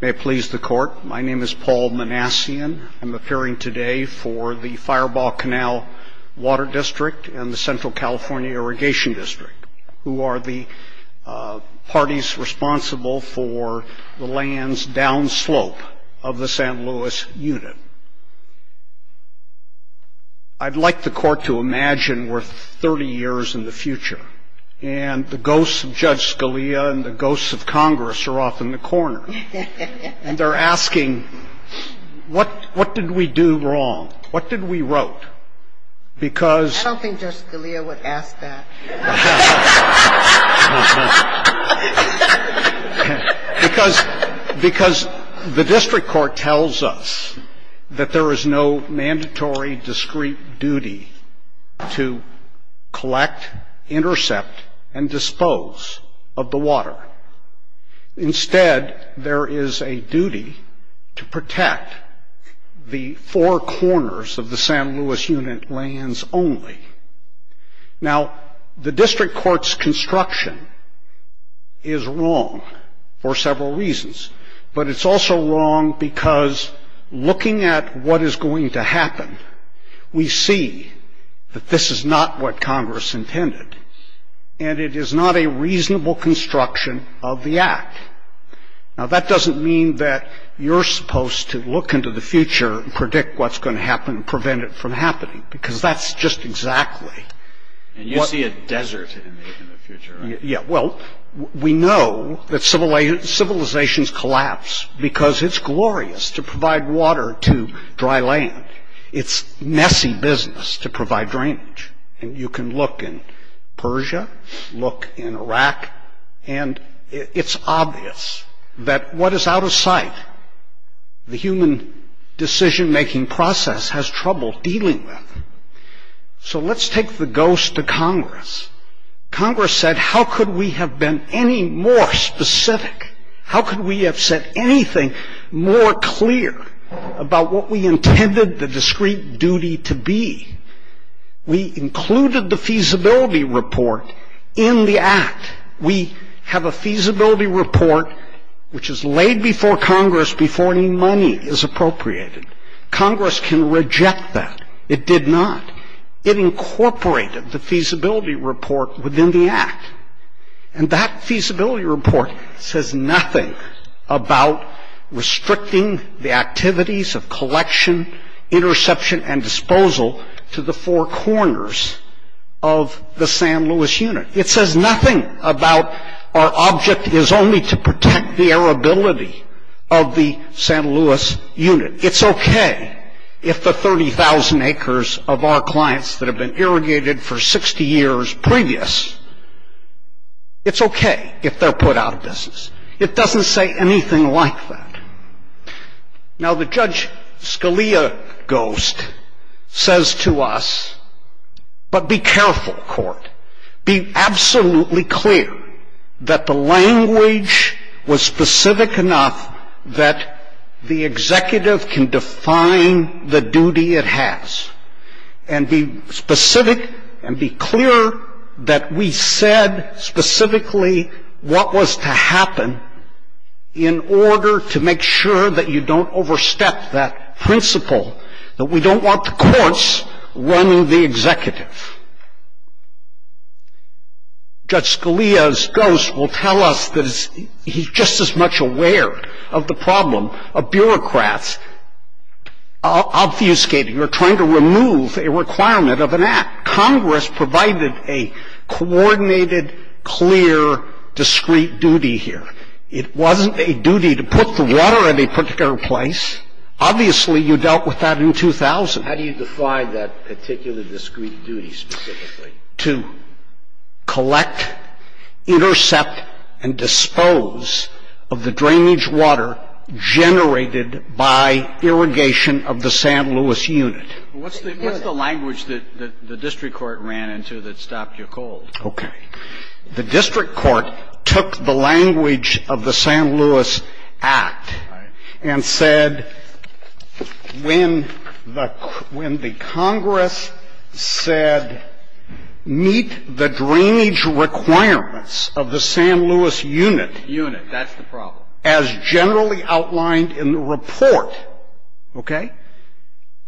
May it please the court, my name is Paul Manassian. I'm appearing today for the Firebaugh Canal Water District and the Central California Irrigation District, who are the parties responsible for the land's downslope of the St. Louis unit. I'd like the court to imagine we're 30 years in the future, and the ghosts of Judge Scalia and the ghosts of Congress are off in the corner, and they're asking, what did we do wrong? What did we wrote? Because I don't think Judge Scalia would ask that. Because the district court tells us that there is a duty to protect the four corners of the St. Louis unit lands only. Now, the district court's construction is wrong for several reasons, but it's also wrong because looking at what is going to happen, we see that this is not what Congress intended, and it is not a reasonable construction of the act. Now, that doesn't mean that you're supposed to look into the future and predict what's going to happen and prevent it from happening, because that's just exactly what And you see a desert in the future, right? Yeah, well, we know that civilizations collapse because it's glorious to provide water to Iraq, and it's obvious that what is out of sight, the human decision-making process has trouble dealing with. So let's take the ghost to Congress. Congress said, how could we have been any more specific? How could we have said anything more clear about what we intended the discrete duty to be? We included the feasibility report in the act. We have a feasibility report which is laid before Congress before any money is appropriated. Congress can reject that. It did not. It incorporated the feasibility report within the act. And that feasibility report says nothing about restricting the activities of collection, interception, and disposal to the four corners of the San Luis unit. It says nothing about our object is only to protect the airability of the San Luis unit. It's okay if the 30,000 acres of our clients that have been irrigated for 60 years previous, it's okay if they're put out of business. It doesn't say anything like that. Now, the Judge Scalia ghost says to us, but be careful, court. Be absolutely clear that the language was specific enough that the executive can define the duty it has. And be specific and be clear that we said specifically what was to happen in order to make sure that you don't overstep that principle, that we don't want the courts running the executive. Judge Scalia's ghost will tell us that he's just as much aware of the problem of bureaucrats obfuscating or trying to remove a requirement of an act. Congress provided a coordinated, clear, discrete duty here. It wasn't a duty to put the water in a particular place. Obviously, you dealt with that in 2000. How do you define that particular discrete duty specifically? To collect, intercept, and dispose of the drainage water generated by irrigation of the San Luis unit. What's the language that the district court ran into that stopped you cold? Okay. The district court took the language of the San Luis Act and said, when the Congress said, meet the drainage requirements of the San Luis unit. Unit. That's the problem. As generally outlined in the report. Okay?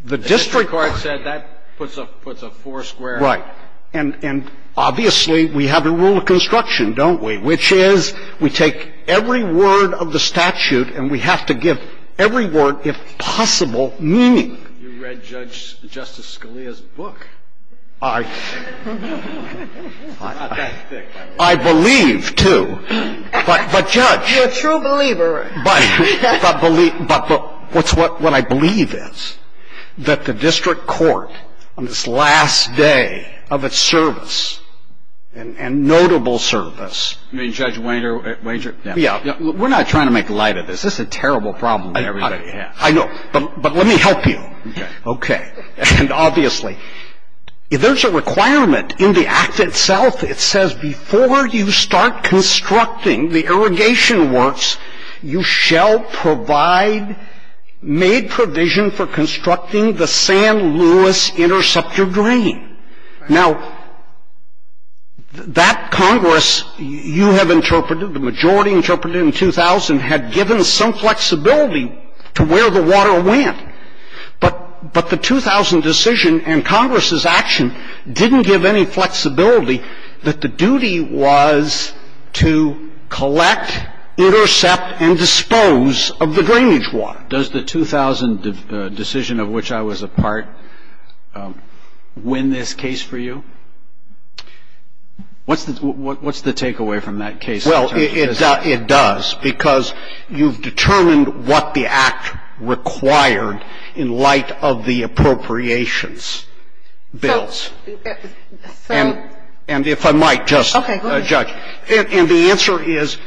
The district court said that puts a four square. Right. And obviously, we have a rule of construction, don't we? Which is, we take every word of the statute, and we have to give every word, if possible, meaning. You read Judge Justice Scalia's book. I believe, too. But, Judge. You're a true believer. But what I believe is that the district court, on this last day of its service and notable service. I mean, Judge Wainter, Wainter. Yeah. We're not trying to make light of this. This is a terrible problem that everybody has. I know. But let me help you. Okay. Okay. And obviously, there's a requirement in the Act itself. It says, before you start constructing the irrigation works, you shall provide, made provision for constructing the San Luis interceptor drain. Now, that Congress, you have interpreted, the majority interpreted in 2000, had given some flexibility to where the water went. But the 2000 decision and Congress's action didn't give any flexibility that the duty was to collect, intercept, and dispose of the drainage water. Does the 2000 decision of which I was a part win this case for you? What's the takeaway from that case? Well, it does. Because you've determined what the Act required in light of the appropriations bills. And if I might just, Judge. And the answer is,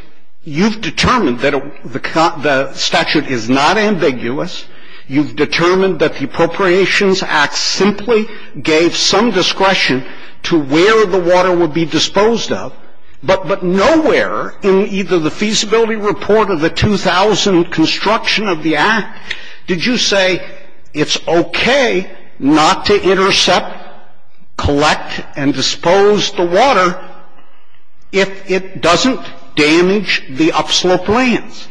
you've determined that the statute is not ambiguous. You've determined that the Appropriations Act simply gave some discretion to where the water would be disposed of. But nowhere in either the feasibility report or the 2000 construction of the Act did you say, it's okay not to intercept, collect, and dispose the water if it doesn't damage the upslope lands.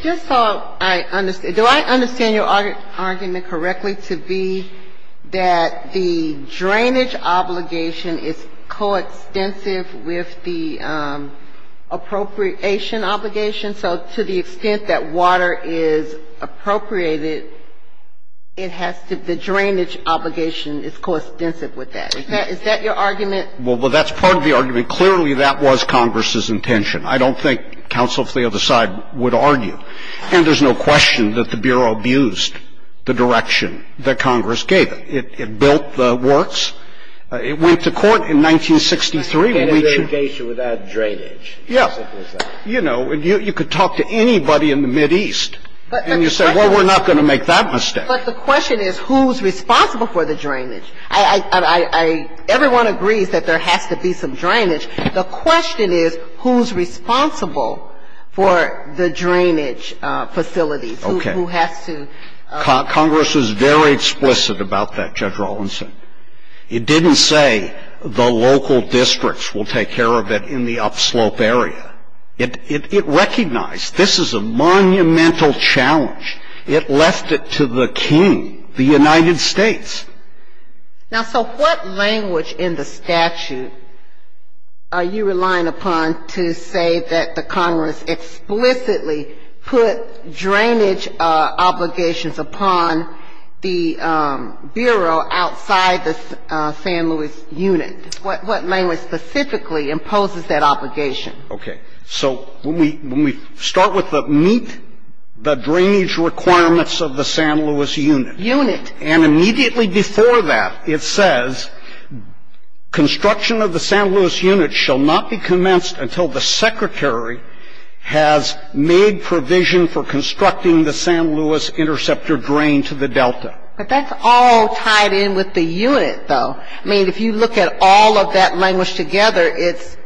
Just so I understand. Do I understand your argument correctly to be that the drainage obligation is coextensive with the appropriation obligation? So to the extent that water is appropriated, it has to be the drainage obligation is coextensive with that. Is that your argument? Well, that's part of the argument. Clearly, that was Congress's intention. I don't think counsel from the other side would argue. And there's no question that the Bureau abused the direction that Congress gave it. It built the works. It went to court in 1963. And we can't engage it without drainage. Yeah. You know, you could talk to anybody in the Mideast and you'd say, well, we're not going to make that mistake. But the question is, who's responsible for the drainage? Everyone agrees that there has to be some drainage. The question is, who's responsible for the drainage facilities? Who has to? Congress was very explicit about that, Judge Rawlinson. It didn't say the local districts will take care of it in the upslope area. It recognized this is a monumental challenge. It left it to the king, the United States. Now, so what language in the statute are you relying upon to say that the Congress explicitly put drainage obligations upon the Bureau outside the San Luis unit? What language specifically imposes that obligation? Okay. So when we start with the meet the drainage requirements of the San Luis unit. Unit. And immediately before that, it says construction of the San Luis unit shall not be commenced until the secretary has made provision for constructing the San Luis interceptor drain to the delta. But that's all tied in with the unit, though. I mean, if you look at all of that language together, it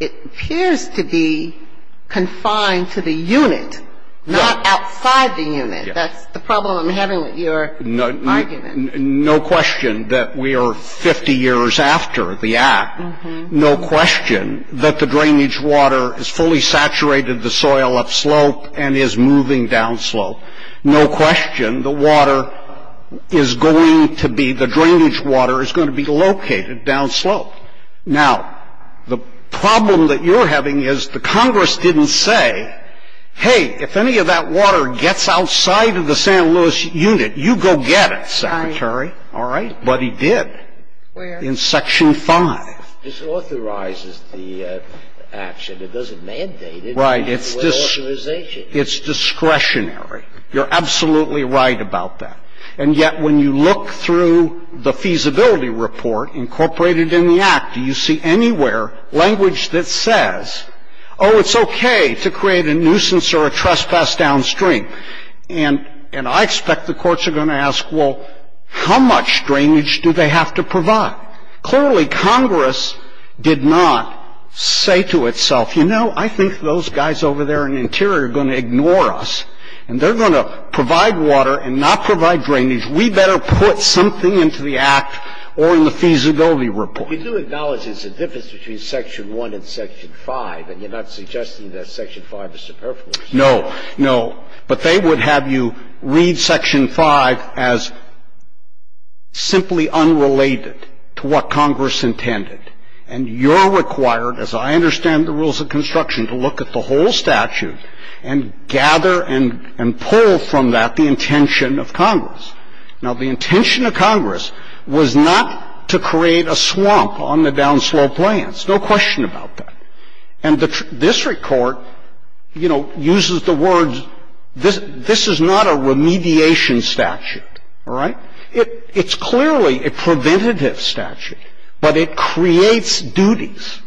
appears to be confined to the unit. Not outside the unit. That's the problem I'm having with your argument. No question that we are 50 years after the act. No question that the drainage water has fully saturated the soil upslope and is moving downslope. No question the water is going to be, the drainage water is going to be located downslope. Now, the problem that you're having is the Congress didn't say, hey, if any of that water gets outside of the San Luis unit, you go get it, secretary. All right? But he did. In section 5. This authorizes the action. It doesn't mandate it. Right. It's discretionary. You're absolutely right about that. And yet, when you look through the feasibility report incorporated in the act, do you see anywhere language that says, oh, it's okay to create a nuisance or a trespass downstream? And I expect the courts are going to ask, well, how much drainage do they have to provide? Clearly, Congress did not say to itself, you know, I think those guys over there in the interior are going to ignore us, and they're going to provide water and not provide drainage. We better put something into the act or in the feasibility report. You do acknowledge there's a difference between section 1 and section 5, and you're not suggesting that section 5 is superfluous. No. No. But they would have you read section 5 as simply unrelated to what Congress intended. And you're required, as I understand the rules of construction, to look at the whole statute and gather and pull from that the intention of Congress. Now, the intention of Congress was not to create a swamp on the downslope lands. No question about that. And the district court, you know, uses the words, this is not a remediation statute. All right. It's clearly a preventative statute, but it creates duties.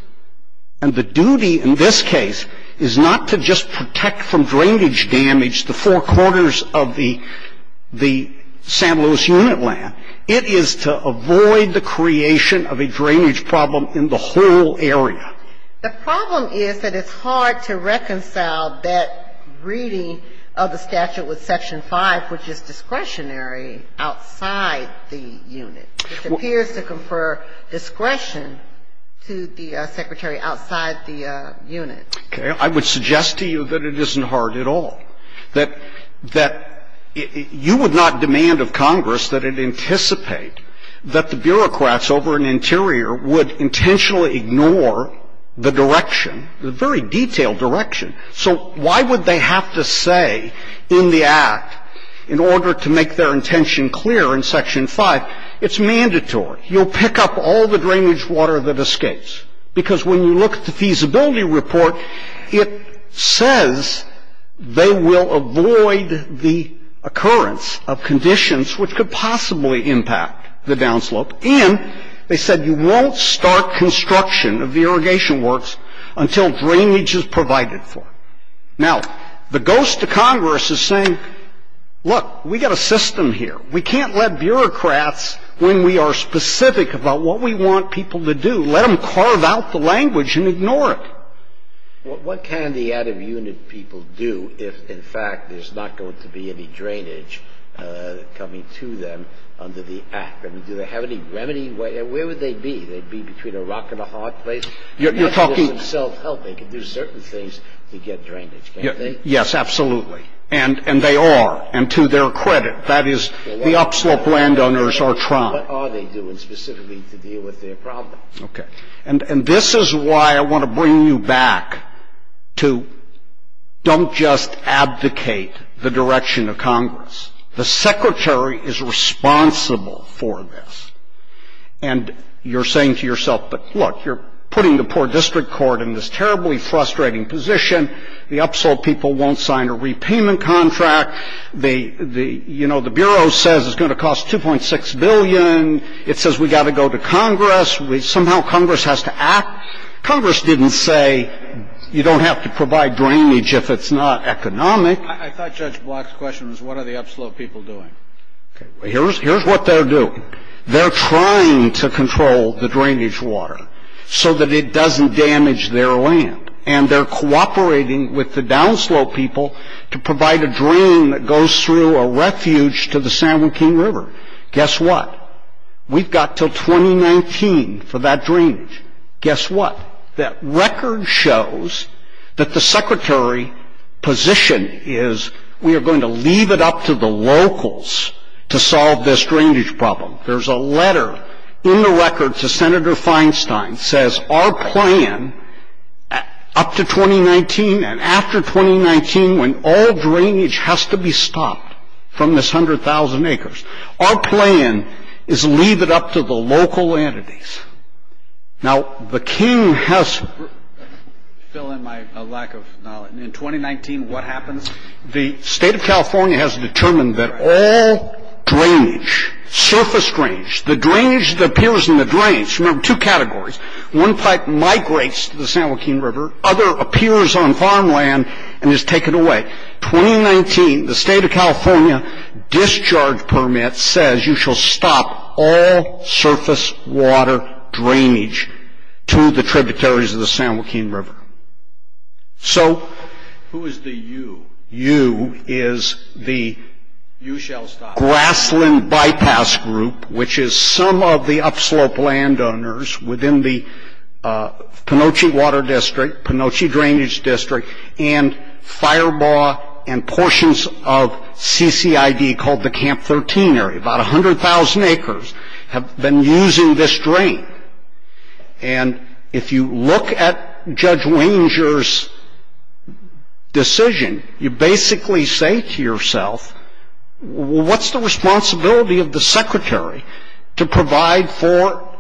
And the duty in this case is not to just protect from drainage damage the four corners of the San Luis unit land. It is to avoid the creation of a drainage problem in the whole area. The problem is that it's hard to reconcile that reading of the statute with section 5, which is discretionary outside the unit, which appears to confer discretion to the secretary outside the unit. Okay. I would suggest to you that it isn't hard at all, that you would not demand of Congress that it anticipate that the bureaucrats over in Interior would intentionally ignore the direction, the very detailed direction. So why would they have to say in the act, in order to make their intention clear in section 5, it's mandatory. You'll pick up all the drainage water that escapes. Because when you look at the feasibility report, it says they will avoid the occurrence of conditions which could possibly impact the downslope, and they said you won't start construction of the irrigation works until drainage is provided for. Now, the ghost to Congress is saying, look, we got a system here. We can't let bureaucrats, when we are specific about what we want people to do, let them carve out the language and ignore it. What can the out-of-unit people do if, in fact, there's not going to be any drainage coming to them under the act? I mean, do they have any remedy? Where would they be? They'd be between a rock and a hard place? You're talking. They could do certain things to get drainage, can't they? Yes, absolutely. And they are. And to their credit, that is, the upslope landowners are trying. What are they doing specifically to deal with their problem? Okay. And this is why I want to bring you back to don't just advocate the direction of Congress. The Secretary is responsible for this. And you're saying to yourself, but look, you're putting the poor district court in this terribly frustrating position. The upslope people won't sign a repayment contract. The, you know, the Bureau says it's going to cost $2.6 billion. It says we've got to go to Congress. Somehow Congress has to act. Congress didn't say you don't have to provide drainage if it's not economic. I thought Judge Block's question was, what are the upslope people doing? Here's what they're doing. They're trying to control the drainage water so that it doesn't damage their land. And they're cooperating with the downslope people to provide a drain that goes through a refuge to the San Joaquin River. Guess what? We've got till 2019 for that drainage. Guess what? That record shows that the Secretary position is we are going to leave it up to the locals to solve this drainage problem. There's a letter in the record to Senator Feinstein says our plan up to 2019 and after 2019 when all drainage has to be stopped from this 100,000 acres. Our plan is leave it up to the local entities. Now, the King has to fill in my lack of knowledge. In 2019, what happens? The state of California has determined that all drainage, surface drainage, the drainage that appears in the drainage, remember two categories. One pipe migrates to the San Joaquin River. Other appears on farmland and is taken away. 2019, the state of California discharge permit says you shall stop all surface water drainage to the tributaries of the San Joaquin River. So who is the you? You is the Grassland Bypass Group, which is some of the upslope landowners within the Penoche Water District, Penoche Drainage District, and Firebaugh and portions of CCID called the Camp 13 area. About 100,000 acres have been using this drain. And if you look at Judge Wenger's decision, you basically say to yourself, well, what's the responsibility of the secretary to provide for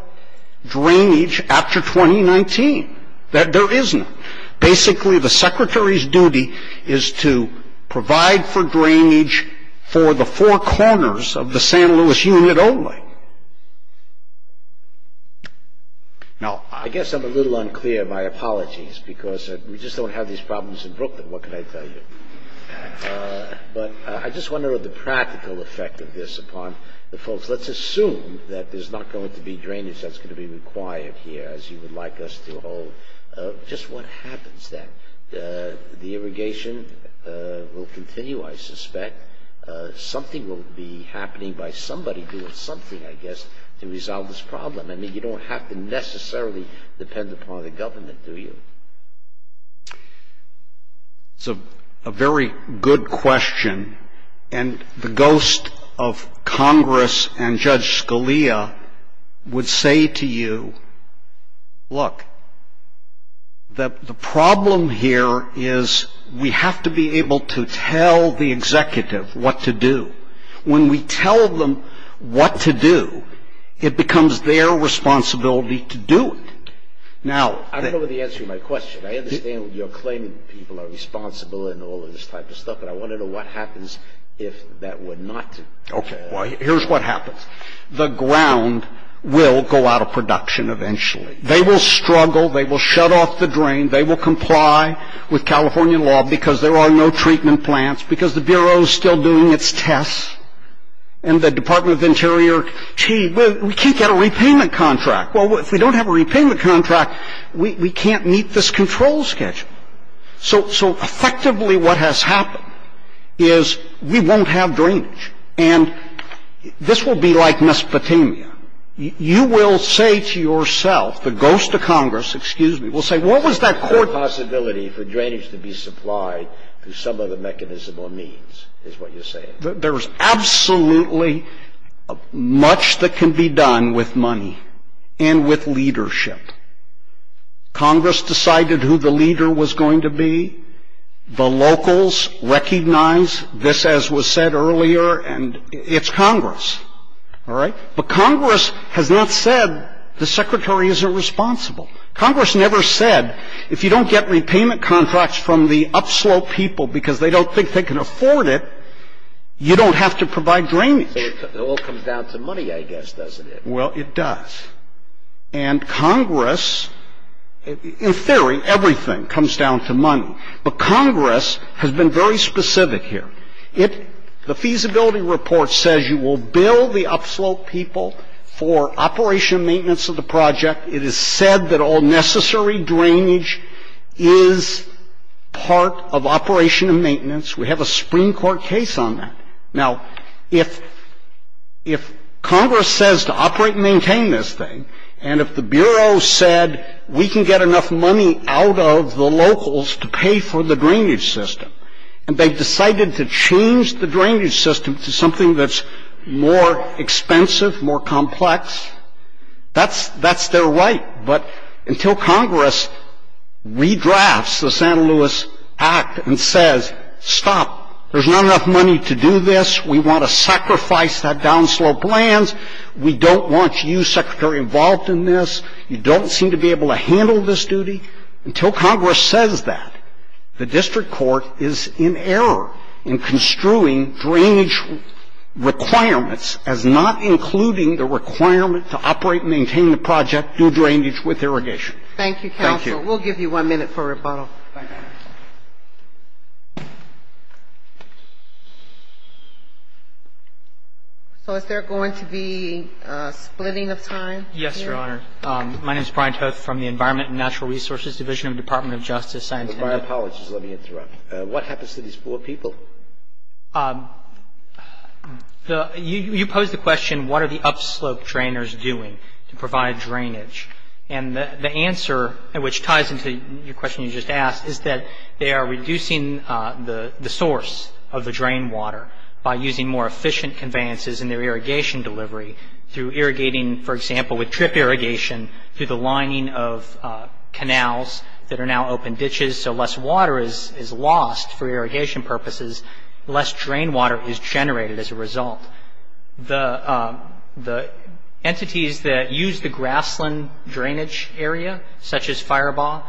drainage after 2019? That there isn't. Basically, the secretary's duty is to provide for drainage for the four corners of the San Luis Union only. Now, I guess I'm a little unclear. My apologies, because we just don't have these problems in Brooklyn. What can I tell you? But I just wonder what the practical effect of this upon the folks. Let's assume that there's not going to be drainage that's going to be required here, as you would like us to hold. Just what happens then? The irrigation will continue, I suspect. Something will be happening by somebody doing something, I guess, to resolve this problem. I mean, you don't have to necessarily depend upon the government, do you? It's a very good question. And the ghost of Congress and Judge Scalia would say to you, look, the problem here is we have to be able to tell the executive what to do. When we tell them what to do, it becomes their responsibility to do it. Now, I don't know the answer to my question. I understand you're claiming people are responsible in all of this type of stuff, but I want to know what happens if that were not. Okay, well, here's what happens. The ground will go out of production eventually. They will struggle. They will shut off the drain. They will comply with California law because there are no treatment plants, because the Bureau's still doing its tests. And the Department of the Interior, gee, we can't get a repayment contract. Well, if we don't have a repayment contract, we can't meet this control schedule. So effectively, what has happened is we won't have drainage. And this will be like Mesopotamia. You will say to yourself, the ghost of Congress, excuse me, will say, what was that court- A possibility for drainage to be supplied through some other mechanism or means, is what you're saying. There's absolutely much that can be done with money. And with leadership. Congress decided who the leader was going to be. The locals recognize this as was said earlier, and it's Congress. All right? But Congress has not said the Secretary isn't responsible. Congress never said, if you don't get repayment contracts from the upslope people because they don't think they can afford it, you don't have to provide drainage. It all comes down to money, I guess, doesn't it? Well, it does. And Congress, in theory, everything comes down to money. But Congress has been very specific here. The feasibility report says you will bill the upslope people for operation and maintenance of the project. It is said that all necessary drainage is part of operation and maintenance. We have a Supreme Court case on that. Now, if Congress says to operate and maintain this thing, and if the Bureau said, we can get enough money out of the locals to pay for the drainage system, and they've decided to change the drainage system to something that's more expensive, more complex, that's their right. But until Congress redrafts the Santa Luis Act and says, stop, there's not enough money to do this, we want to sacrifice that downslope land, we don't want you, Secretary, involved in this, you don't seem to be able to handle this duty, until Congress says that, the district court is in error in construing drainage requirements as not including the requirement to operate and maintain the project due drainage with irrigation. We'll give you one minute for rebuttal. So is there going to be a splitting of time? Yes, Your Honor. My name is Brian Toth from the Environment and Natural Resources Division of the Department of Justice. My apologies, let me interrupt. What happens to these four people? You posed the question, what are the upslope drainers doing to provide drainage? And the answer, which ties into your question you just asked, is that they are reducing the source of the drain water by using more efficient conveyances in their irrigation delivery through irrigating, for example, with drip irrigation through the lining of canals that are now open ditches, so less water is lost for irrigation purposes, less drain water is generated as a result. The entities that use the grassland drainage area, such as Firebaugh,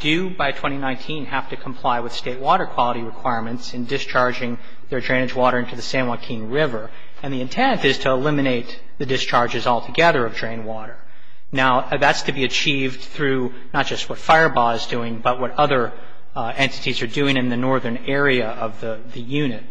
do by 2019 have to comply with State water quality requirements in discharging their drainage water into the San Joaquin River, and the intent is to eliminate the discharges altogether of drain water. Now, that's to be achieved through not just what Firebaugh is doing, but what other entities are doing in the northern area of the unit.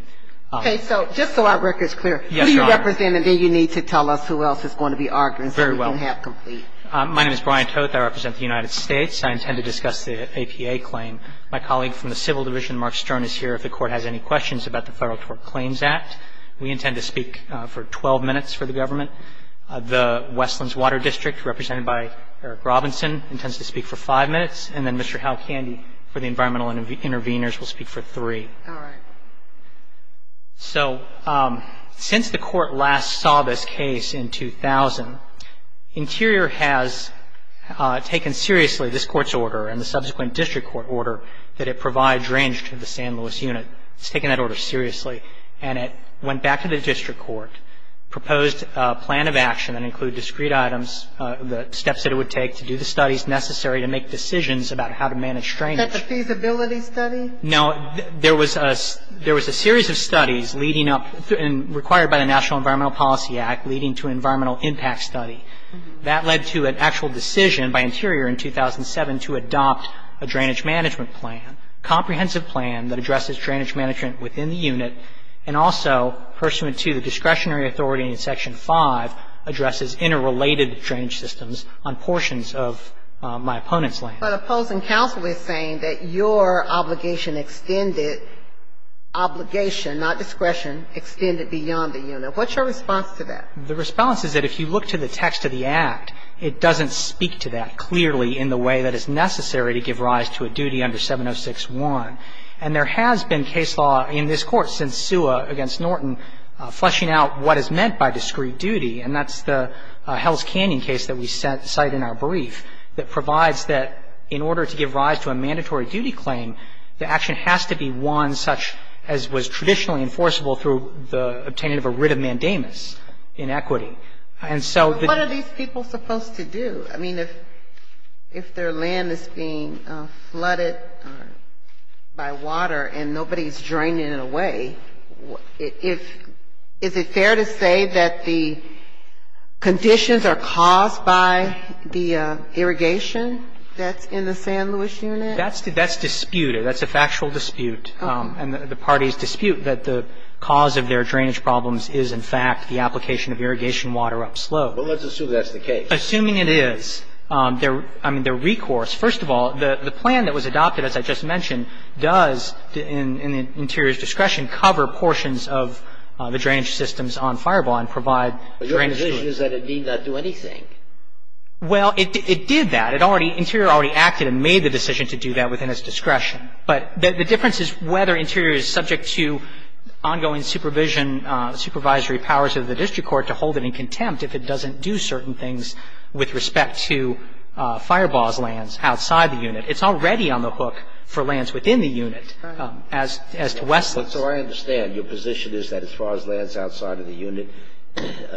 Okay, so just so our record's clear, who do you represent, and then you need to tell us who else is going to be arguing so we can have complete. My name is Brian Toth, I represent the United States. I intend to discuss the APA claim. My colleague from the Civil Division, Mark Stern, is here if the Court has any questions about the Federal Tort Claims Act. We intend to speak for 12 minutes for the government. The Westlands Water District, represented by Eric Robinson, intends to speak for five minutes, and then Mr. Hal Candy for the Environmental Intervenors will speak for three. All right. So, since the Court last saw this case in 2000, Interior has taken seriously this Court's order and the subsequent District Court order that it provides ranged to the San Luis unit. It's taken that order seriously, and it went back to the District Court, proposed a plan of action that included discrete items, the steps that it would take to do the studies necessary to make decisions about how to manage drainage. Is that the feasibility study? No, there was a series of studies leading up, required by the National Environmental Policy Act, leading to an environmental impact study. That led to an actual decision by Interior in 2007 to adopt a drainage management plan, a comprehensive plan that addresses drainage management within the unit, and also pursuant to the discretionary authority in Section 5, addresses interrelated drainage systems on portions of my opponent's land. But opposing counsel is saying that your obligation extended, obligation, not discretion, extended beyond the unit. What's your response to that? The response is that if you look to the text of the Act, it doesn't speak to that clearly in the way that is necessary to give rise to a duty under 706-1. And there has been case law in this Court since Sua against Norton fleshing out what is meant by discrete duty, and that's the Hell's Canyon case that we cite in our brief that provides that in order to give rise to a mandatory duty claim, the action has to be one such as was traditionally enforceable through the obtaining of a writ of mandamus in equity. And so the... But what are these people supposed to do? I mean, if their land is being flooded by water and nobody's draining it away, is it fair to say that the conditions are caused by the irrigation that's in the San Luis unit? That's disputed. That's a factual dispute and the parties dispute that the cause of their drainage problems is, in fact, the application of irrigation water upslope. Well, let's assume that's the case. Assuming it is, I mean, their recourse. First of all, the plan that was adopted, as I just mentioned, does in Interior's discretion cover portions of the drainage systems on Firebaugh and provide drainage to it. But your position is that it need not do anything. Well, it did that. It already – Interior already acted and made the decision to do that within its discretion. But the difference is whether Interior is subject to ongoing supervision, supervisory powers of the district court to hold it in contempt if it doesn't do certain things with respect to Firebaugh's lands outside the unit. It's already on the hook for lands within the unit, as to Wesley. So I understand. Your position is that as far as lands outside of the unit,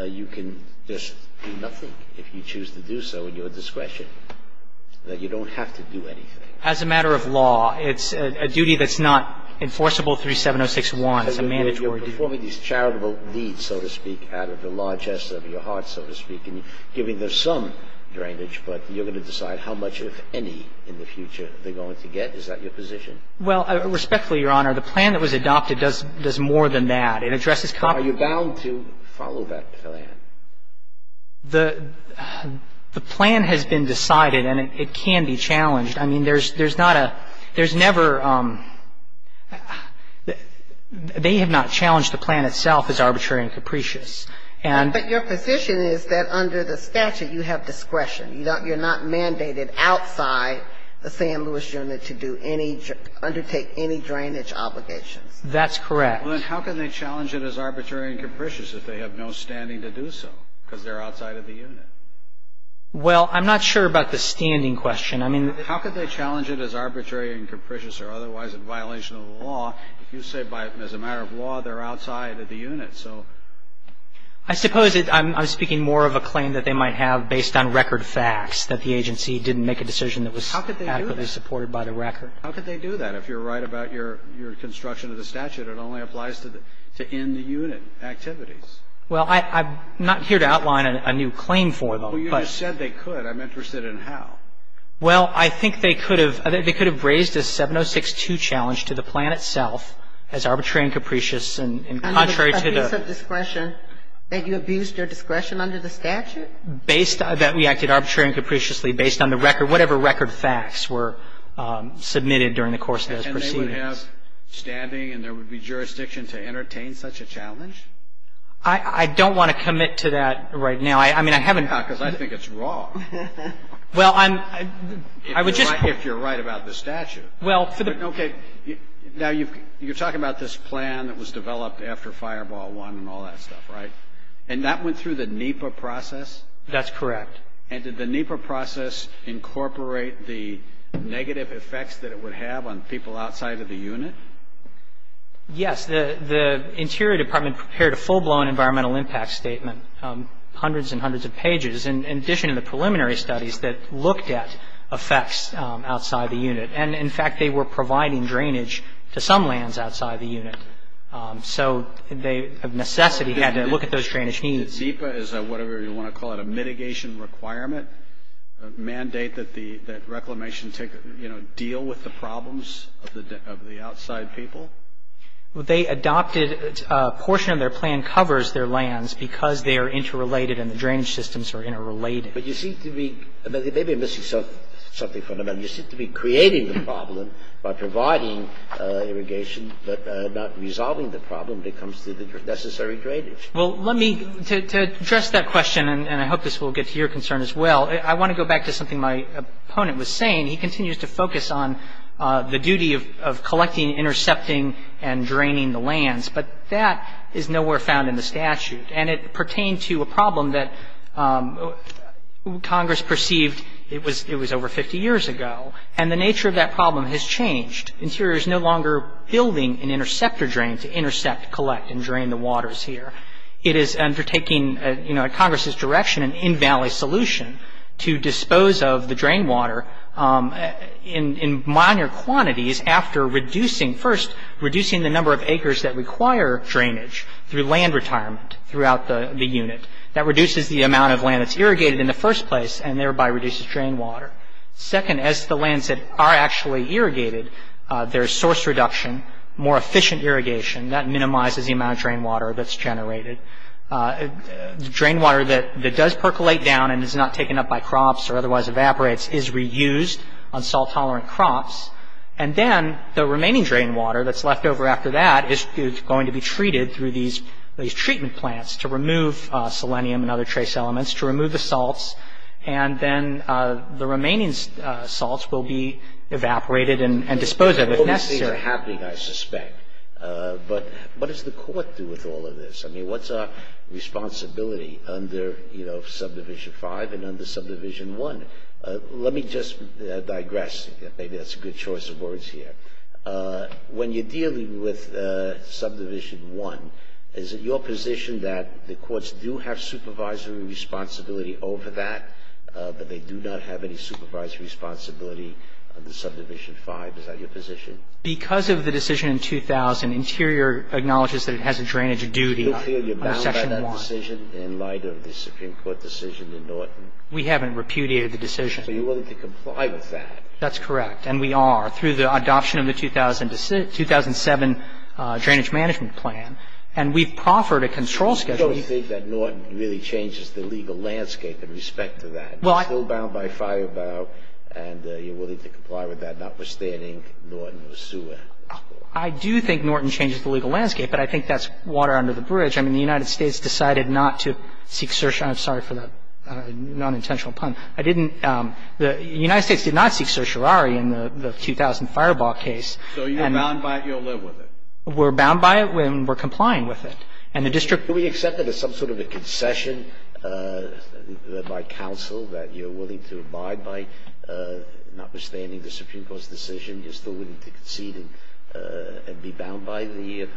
you can just do nothing if you choose to do so in your discretion, that you don't have to do anything. As a matter of law, it's a duty that's not enforceable through 706-1. It's a mandatory duty. You're performing these charitable deeds, so to speak, out of the largesse of your heart, so to speak, and you're giving them some drainage, but you're going to decide how much, if any, in the future they're going to get. Is that your position? Well, respectfully, Your Honor, the plan that was adopted does more than that. It addresses – Are you bound to follow that plan? The plan has been decided, and it can be challenged. I mean, there's not a – there's never – they have not challenged the plan itself as arbitrary and capricious, and – But your position is that under the statute, you have discretion. You're not mandated outside the San Luis unit to do any – undertake any drainage obligations. That's correct. Well, then how can they challenge it as arbitrary and capricious if they have no standing to do so, because they're outside of the unit? Well, I'm not sure about the standing question. How could they challenge it as arbitrary and capricious or otherwise in violation of the law if you say, as a matter of law, they're outside of the unit? I suppose I'm speaking more of a claim that they might have based on record facts, that the agency didn't make a decision that was adequately supported by the record. How could they do that? If you're right about your construction of the statute, it only applies to in-the-unit activities. Well, I'm not here to outline a new claim for them, but – Well, you just said they could. I'm interested in how. Well, I think they could have – they could have raised a 706-2 challenge to the plan itself as arbitrary and capricious and contrary to the – A piece of discretion that you abused your discretion under the statute? Based – that we acted arbitrary and capriciously based on the record – whatever record facts were submitted during the course of those proceedings. And they would have standing and there would be jurisdiction to entertain such a challenge? I don't want to commit to that right now. I mean, I haven't – Because I think it's wrong. Well, I'm – I would just – If you're right about the statute. Well, for the – Okay. Now, you're talking about this plan that was developed after Fireball 1 and all that stuff, right? And that went through the NEPA process? That's correct. And did the NEPA process incorporate the negative effects that it would have on people outside of the unit? Yes. The Interior Department prepared a full-blown environmental impact statement, hundreds and hundreds of pages. In addition to the preliminary studies that looked at effects outside the unit. And, in fact, they were providing drainage to some lands outside the unit. So they, of necessity, had to look at those drainage needs. Did NEPA, as a – whatever you want to call it, a mitigation requirement, mandate that the – that Reclamation take – you know, deal with the problems of the outside people? They adopted – a portion of their plan covers their lands because they are interrelated and the drainage systems are interrelated. But you seem to be – maybe I'm missing something fundamental. You seem to be creating the problem by providing irrigation, but not resolving the problem when it comes to the necessary drainage. Well, let me – to address that question, and I hope this will get to your concern as well, I want to go back to something my opponent was saying. He continues to focus on the duty of collecting, intercepting, and draining the lands. But that is nowhere found in the statute. And it pertained to a problem that Congress perceived – it was over 50 years ago. And the nature of that problem has changed. Interior is no longer building an interceptor drain to intercept, collect, and drain the waters here. It is undertaking, you know, at Congress's direction, an in-valley solution to dispose of the drain water in minor quantities after reducing – first, reducing the number of acres that require drainage through land retirement, throughout the unit. That reduces the amount of land that's irrigated in the first place, and thereby reduces drain water. Second, as the lands that are actually irrigated, there's source reduction, more efficient irrigation. That minimizes the amount of drain water that's generated. Drain water that does percolate down and is not taken up by crops or otherwise evaporates is reused on salt-tolerant crops. through these treatment plants to remove selenium and other trace elements, to remove the salts, and then the remaining salts will be evaporated and disposed of, if necessary. The only things that are happening, I suspect, but what does the court do with all of this? I mean, what's our responsibility under, you know, Subdivision 5 and under Subdivision 1? Let me just digress. Maybe that's a good choice of words here. When you're dealing with Subdivision 1, is it your position that the courts do have supervisory responsibility over that, but they do not have any supervisory responsibility under Subdivision 5? Is that your position? Because of the decision in 2000, Interior acknowledges that it has a drainage duty under Section 1. You feel you're bound by that decision in light of the Supreme Court decision in Norton? We haven't repudiated the decision. So you're willing to comply with that? That's correct. And we are, through the adoption of the 2007 Drainage Management Plan. And we've proffered a control schedule. You don't think that Norton really changes the legal landscape in respect to that? You're still bound by Firebaugh, and you're willing to comply with that, notwithstanding Norton was sued, that's correct. I do think Norton changes the legal landscape, but I think that's water under the bridge. I mean, the United States decided not to seek certion. I'm sorry for that nonintentional pun. I didn't the United States did not seek certiorari in the 2000 Firebaugh case. So you're bound by it, you'll live with it? We're bound by it, and we're complying with it. And the district Do we accept that as some sort of a concession by counsel that you're willing to abide by, notwithstanding the Supreme Court's decision, you're still willing to concede and be bound by the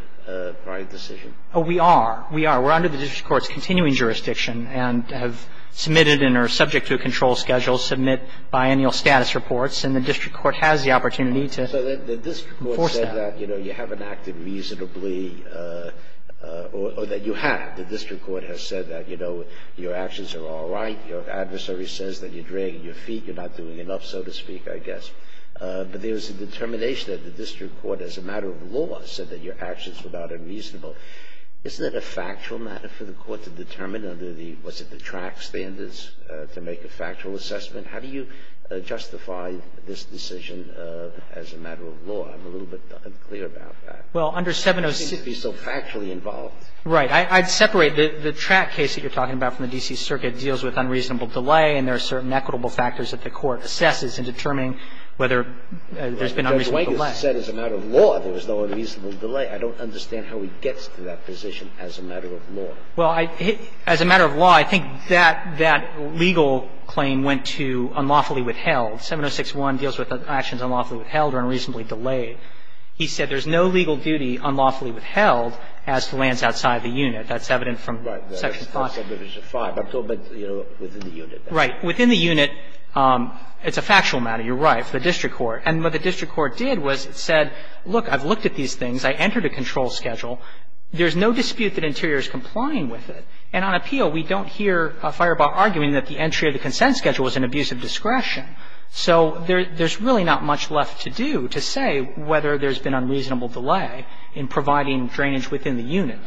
prior decision? Oh, we are. We are. We're under the district court's continuing jurisdiction and have submitted and are subject to a control schedule, submit biannual status reports, and the district court has the opportunity to enforce that. So the district court said that, you know, you haven't acted reasonably or that you have. The district court has said that, you know, your actions are all right, your adversary says that you're dragging your feet, you're not doing enough, so to speak, I guess. But there's a determination that the district court, as a matter of law, said that your actions were not unreasonable. Isn't that a factual matter for the court to determine under the, what's it, the track standards to make a factual assessment? How do you justify this decision as a matter of law? I'm a little bit unclear about that. Well, under 706 You seem to be so factually involved. Right. I'd separate the track case that you're talking about from the D.C. Circuit deals with unreasonable delay and there are certain equitable factors that the court assesses in determining whether there's been unreasonable delay. But the way it was said as a matter of law, there was no unreasonable delay. I don't understand how he gets to that position as a matter of law. Well, as a matter of law, I think that legal claim went to unlawfully withheld. 706-1 deals with actions unlawfully withheld or unreasonably delayed. He said there's no legal duty unlawfully withheld as to lands outside the unit. That's evident from Section 5. Right. Section 5. I'm talking about within the unit. Right. Within the unit, it's a factual matter. You're right, for the district court. And what the district court did was it said, look, I've looked at these things. I entered a control schedule. There's no dispute that Interior is complying with it. And on appeal, we don't hear a firebar arguing that the entry of the consent schedule was an abuse of discretion. So there's really not much left to do to say whether there's been unreasonable delay in providing drainage within the unit.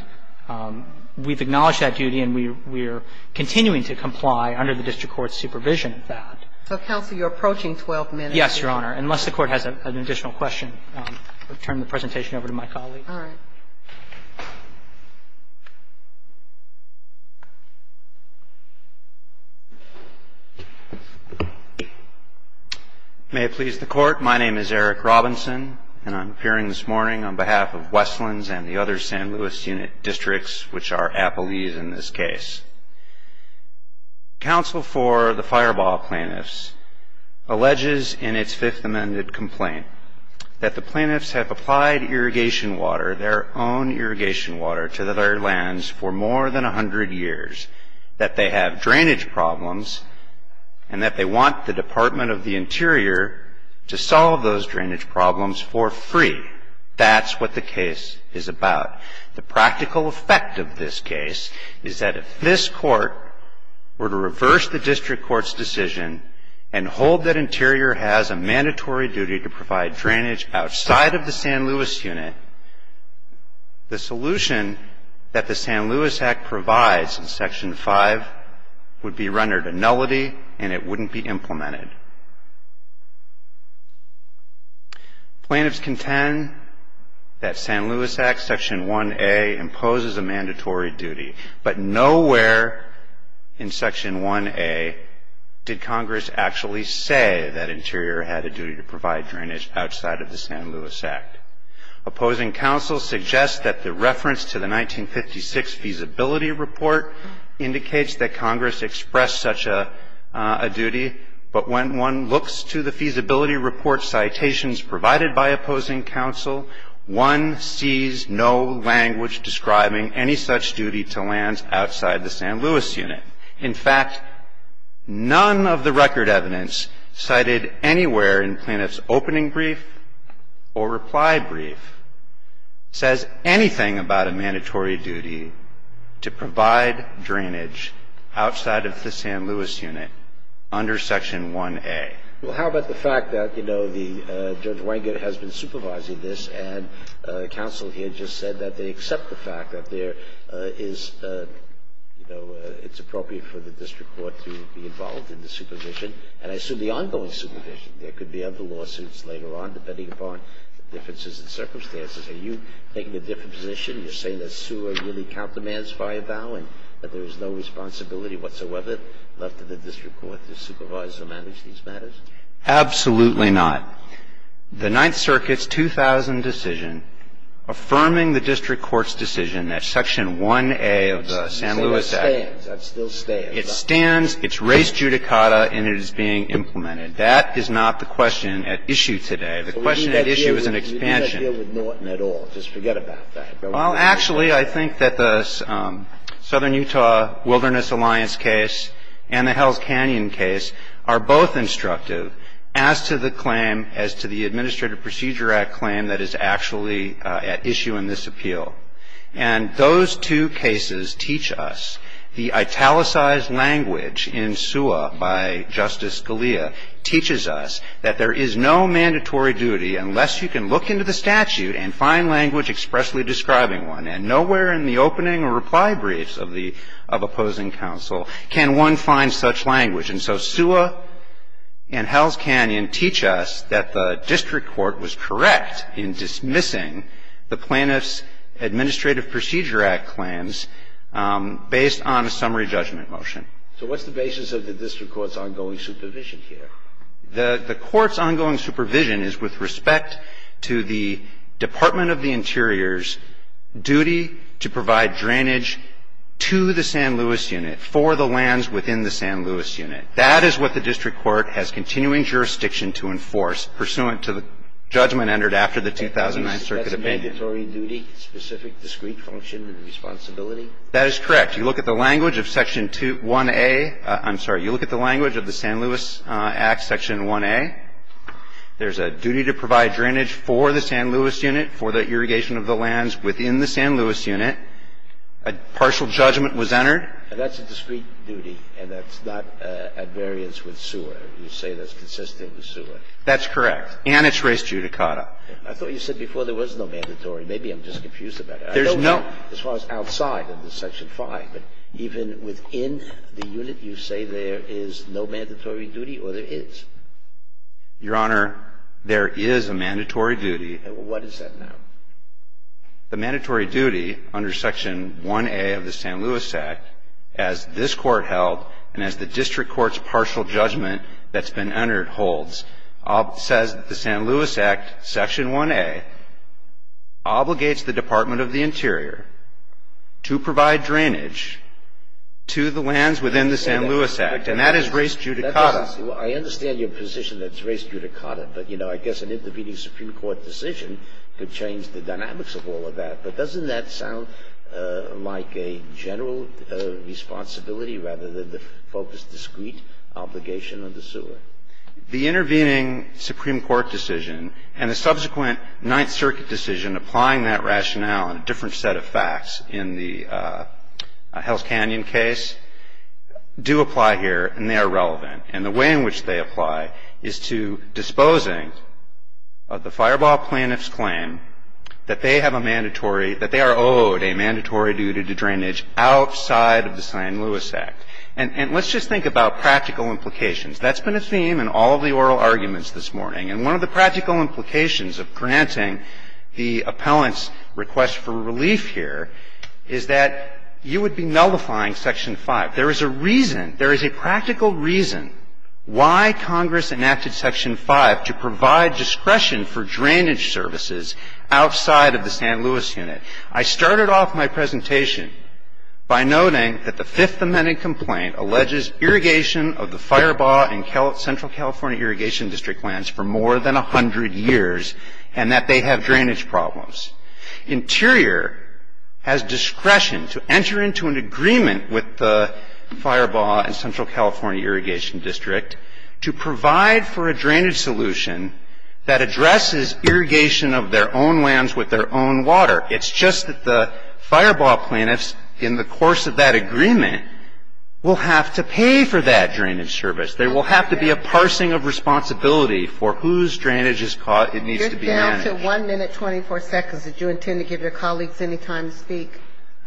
We've acknowledged that duty and we're continuing to comply under the district court's supervision of that. So, counsel, you're approaching 12 minutes. Yes, Your Honor, unless the Court has an additional question. I'll turn the presentation over to my colleague. All right. May it please the Court. My name is Eric Robinson and I'm appearing this morning on behalf of Westlands and the other San Luis unit districts, which are Appalese in this case. Counsel for the firebar plaintiffs alleges in its Fifth Amendment complaint that the plaintiffs have applied irrigation water, their own irrigation water, to their lands for more than 100 years, that they have drainage problems, and that they want the Department of the Interior to solve those drainage problems for free. That's what the case is about. The practical effect of this case is that if this court were to reverse the district court's decision and hold that Interior has a mandatory duty to provide drainage outside of the San Luis unit, the solution that the San Luis Act provides in Section 5 would be rendered a nullity and it wouldn't be implemented. Plaintiffs contend that San Luis Act Section 1A imposes a mandatory duty, but nowhere in Section 1A did Congress actually say that Interior had a duty to provide drainage outside of the San Luis Act. Opposing counsel suggests that the reference to the 1956 feasibility report indicates that Congress expressed such a duty, but when one looks to the feasibility report citations provided by opposing counsel, one sees no language describing any such duty to lands outside the San Luis unit. In fact, none of the record evidence cited anywhere in plaintiff's opening brief or reply brief says anything about a mandatory duty to provide drainage outside of the San Luis unit under Section 1A. Well, how about the fact that, you know, Judge Wenger has been supervising this and counsel here just said that they accept the fact that there is, you know, it's appropriate for the district court to be involved in the supervision and I assume the ongoing supervision. There could be other lawsuits later on depending upon differences in circumstances. Are you taking a different position? You're saying that sewer really countermands fire bow and that there is no responsibility whatsoever left to the district court to supervise or manage these matters? Absolutely not. The Ninth Circuit's 2000 decision affirming the district court's decision that Section 1A of the San Luis Act It stands. That still stands. It stands. It's raised judicata and it is being implemented. That is not the question at issue today. The question at issue is an expansion. You're not dealing with Norton at all. Just forget about that. Well, actually, I think that the Southern Utah Wilderness Alliance case and the Hells Canyon case are both instructive as to the claim, as to the Administrative Procedure Act claim that is actually at issue in this appeal. And those two cases teach us the italicized language in SEWA by Justice Scalia teaches us that there is no mandatory duty unless you can look into the statute and find language expressly describing one and nowhere in the opening reply briefs of opposing counsel can one find such language. And so SEWA and Hells Canyon teach us that the district court was correct in dismissing the plaintiff's Administrative Procedure Act claims based on a summary judgment motion. So what's the basis of the district court's ongoing supervision here? The court's ongoing supervision is with respect to the Department of the Interior's duty to provide drainage to the San Luis unit for the lands within the San Luis unit. That is what the district court has continuing jurisdiction to enforce pursuant to the judgment entered after the 2009 circuit opinion. That's a mandatory duty, specific discrete function and responsibility? That is correct. You look at the language of Section 1A. I'm sorry. You look at the language of the San Luis Act, Section 1A. There's a duty to provide drainage for the San Luis unit, for the irrigation of the lands within the San Luis unit. A partial judgment was entered. And that's a discrete duty, and that's not at variance with SEWA. You say that's consistent with SEWA. That's correct. And it's res judicata. I thought you said before there was no mandatory. Maybe I'm just confused about it. There's no. As far as outside under Section 5, even within the unit, you say there is no mandatory duty or there is? Your Honor, there is a mandatory duty. And what is that now? The mandatory duty under Section 1A of the San Luis Act, as this court held and as the district court's partial judgment that's been entered holds, says the San Luis Act, Section 1A, obligates the Department of the Interior to provide drainage to the lands within the San Luis Act, and that is res judicata. I understand your position that it's res judicata, but I guess an intervening Supreme Court decision could change the dynamics of all of that. But doesn't that sound like a general responsibility rather than the focused, discrete obligation under SEWA? The intervening Supreme Court decision and the subsequent Ninth Circuit decision applying that rationale on a different set of facts in the Hell's Canyon case do apply here, and they are relevant. And the way in which they apply is to disposing of the fireball plaintiff's claim that they have a mandatory, that they are owed a mandatory duty to drainage outside of the San Luis Act. And let's just think about practical implications. That's been a theme in all of the oral arguments this morning. And one of the practical implications of granting the appellant's request for relief here is that you would be nullifying Section 5. There is a reason, there is a practical reason why Congress enacted Section 5 to provide discretion for drainage services outside of the San Luis Unit. I started off my presentation by noting that the Fifth Amendment complaint alleges irrigation of the Firebaugh and Central California Irrigation District lands for more than 100 years and that they have drainage problems. Interior has discretion to enter into an agreement with the Firebaugh and Central California Irrigation District to provide for a drainage solution that addresses irrigation of their own lands with their own water. It's just that the Firebaugh plaintiffs, in the course of that agreement, will have to pay for that drainage service. There will have to be a parsing of responsibility for whose drainage is caught. It needs to be managed. One minute, 24 seconds. Did you intend to give your colleagues any time to speak?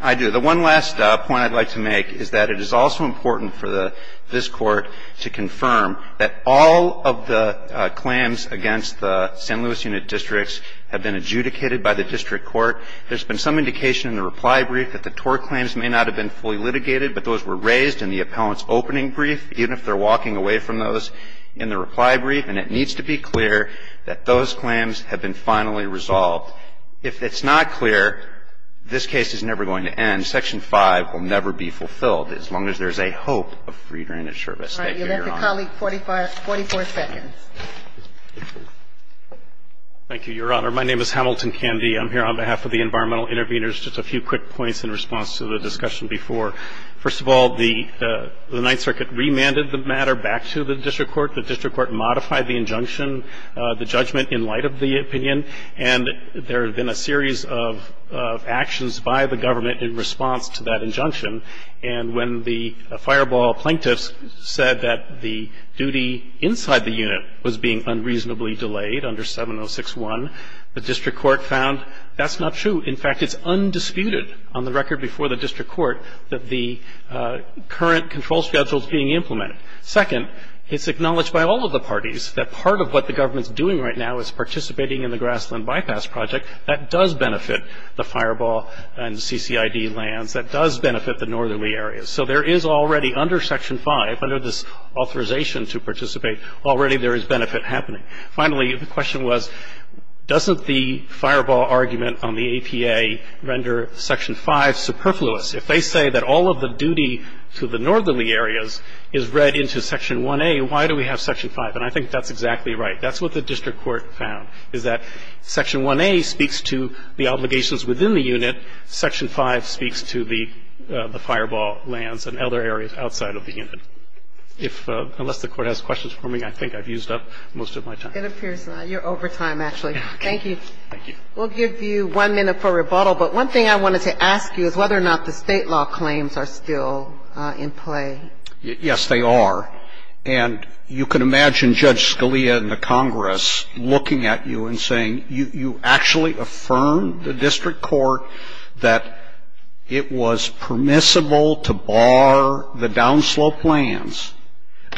I do. The one last point I'd like to make is that it is also important for this Court to confirm that all of the claims against the San Luis Unit districts have been adjudicated by the district court. There's been some indication in the reply brief that the Torr claims may not have been fully litigated, but those were raised in the appellant's opening brief, even if they're walking away from those in the reply brief. And it needs to be clear that those claims have been finally resolved. If it's not clear, this case is never going to end. Section 5 will never be fulfilled, as long as there's a hope of free drainage service. Thank you, Your Honor. All right. You'll let the colleague 44 seconds. Thank you, Your Honor. My name is Hamilton Candy. I'm here on behalf of the Environmental Intervenors. Just a few quick points in response to the discussion before. First of all, the Ninth Circuit remanded the matter back to the district court. The district court modified the injunction, the judgment, in light of the opinion. And there have been a series of actions by the government in response to that injunction. And when the fireball plaintiffs said that the duty inside the unit was being unreasonably delayed under 706-1, the district court found that's not true. In fact, it's undisputed on the record before the district court that the current control schedule is being implemented. Second, it's acknowledged by all of the parties that part of what the government's doing right now is participating in the Grassland Bypass Project. That does benefit the fireball and CCID lands. That does benefit the northerly areas. So there is already, under Section 5, under this authorization to participate, already there is benefit happening. Finally, the question was, doesn't the fireball argument on the APA render Section 5 superfluous? If they say that all of the duty to the northerly areas is read into Section 1A, why do we have Section 5? And I think that's exactly right. That's what the district court found, is that Section 1A speaks to the obligations within the unit, Section 5 speaks to the fireball lands and other areas outside of the unit. If, unless the Court has questions for me, I think I've used up most of my time. It appears not. You're over time, actually. Thank you. Thank you. We'll give you one minute for rebuttal. But one thing I wanted to ask you is whether or not the state law claims are still in play. Yes, they are. And you can imagine Judge Scalia in the Congress looking at you and saying, you actually affirmed the district court that it was permissible to bar the downslope lands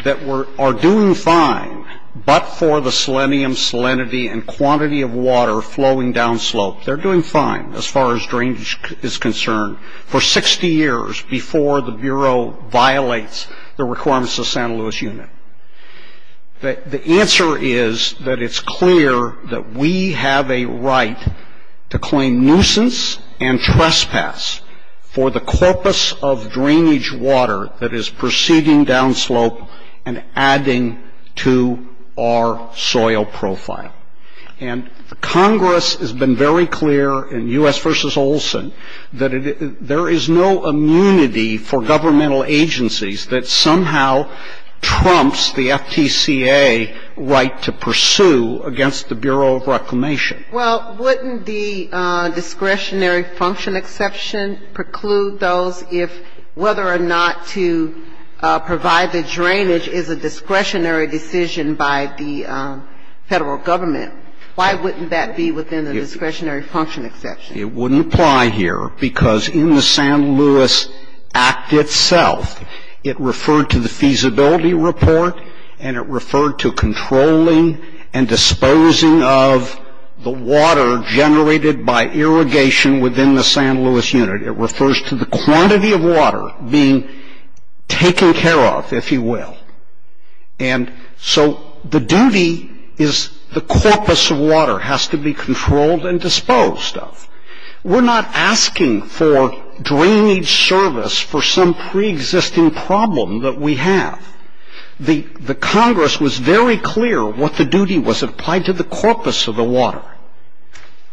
that are doing fine, but for the selenium, salinity, and quantity of water flowing downslope. They're doing fine, as far as drainage is concerned, for 60 years before the Bureau violates the requirements of the San Luis Unit. The answer is that it's clear that we have a right to claim nuisance and trespass for the corpus of drainage water that is proceeding downslope and adding to our soil profile. And Congress has been very clear in U.S. v. Olson that there is no immunity for governmental agencies that somehow trumps the FTCA right to pursue against the Bureau of Reclamation. Well, wouldn't the discretionary function exception preclude those if whether or not to provide the drainage is a discretionary decision by the federal government? Why wouldn't that be within the discretionary function exception? It wouldn't apply here because in the San Luis Act itself, it referred to the feasibility report and it referred to controlling and disposing of the water generated by irrigation within the San Luis Unit. It refers to the quantity of water being taken care of, if you will. And so the duty is the corpus of water has to be controlled and disposed of. We're not asking for drainage service for some preexisting problem that we have. The Congress was very clear what the duty was applied to the corpus of the water.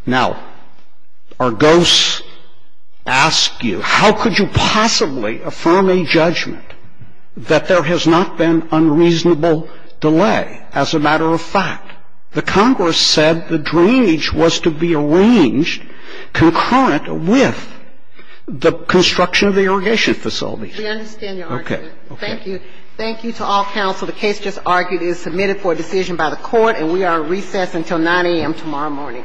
Now, Argos asks you, how could you possibly affirm a judgment that there has not been unreasonable delay as a matter of fact? The Congress said the drainage was to be arranged concurrent with the construction of the irrigation facility. We understand your argument. Thank you. Thank you to all counsel. The case just argued is submitted for a decision by the Court and we are on recess until 9 a.m. tomorrow morning.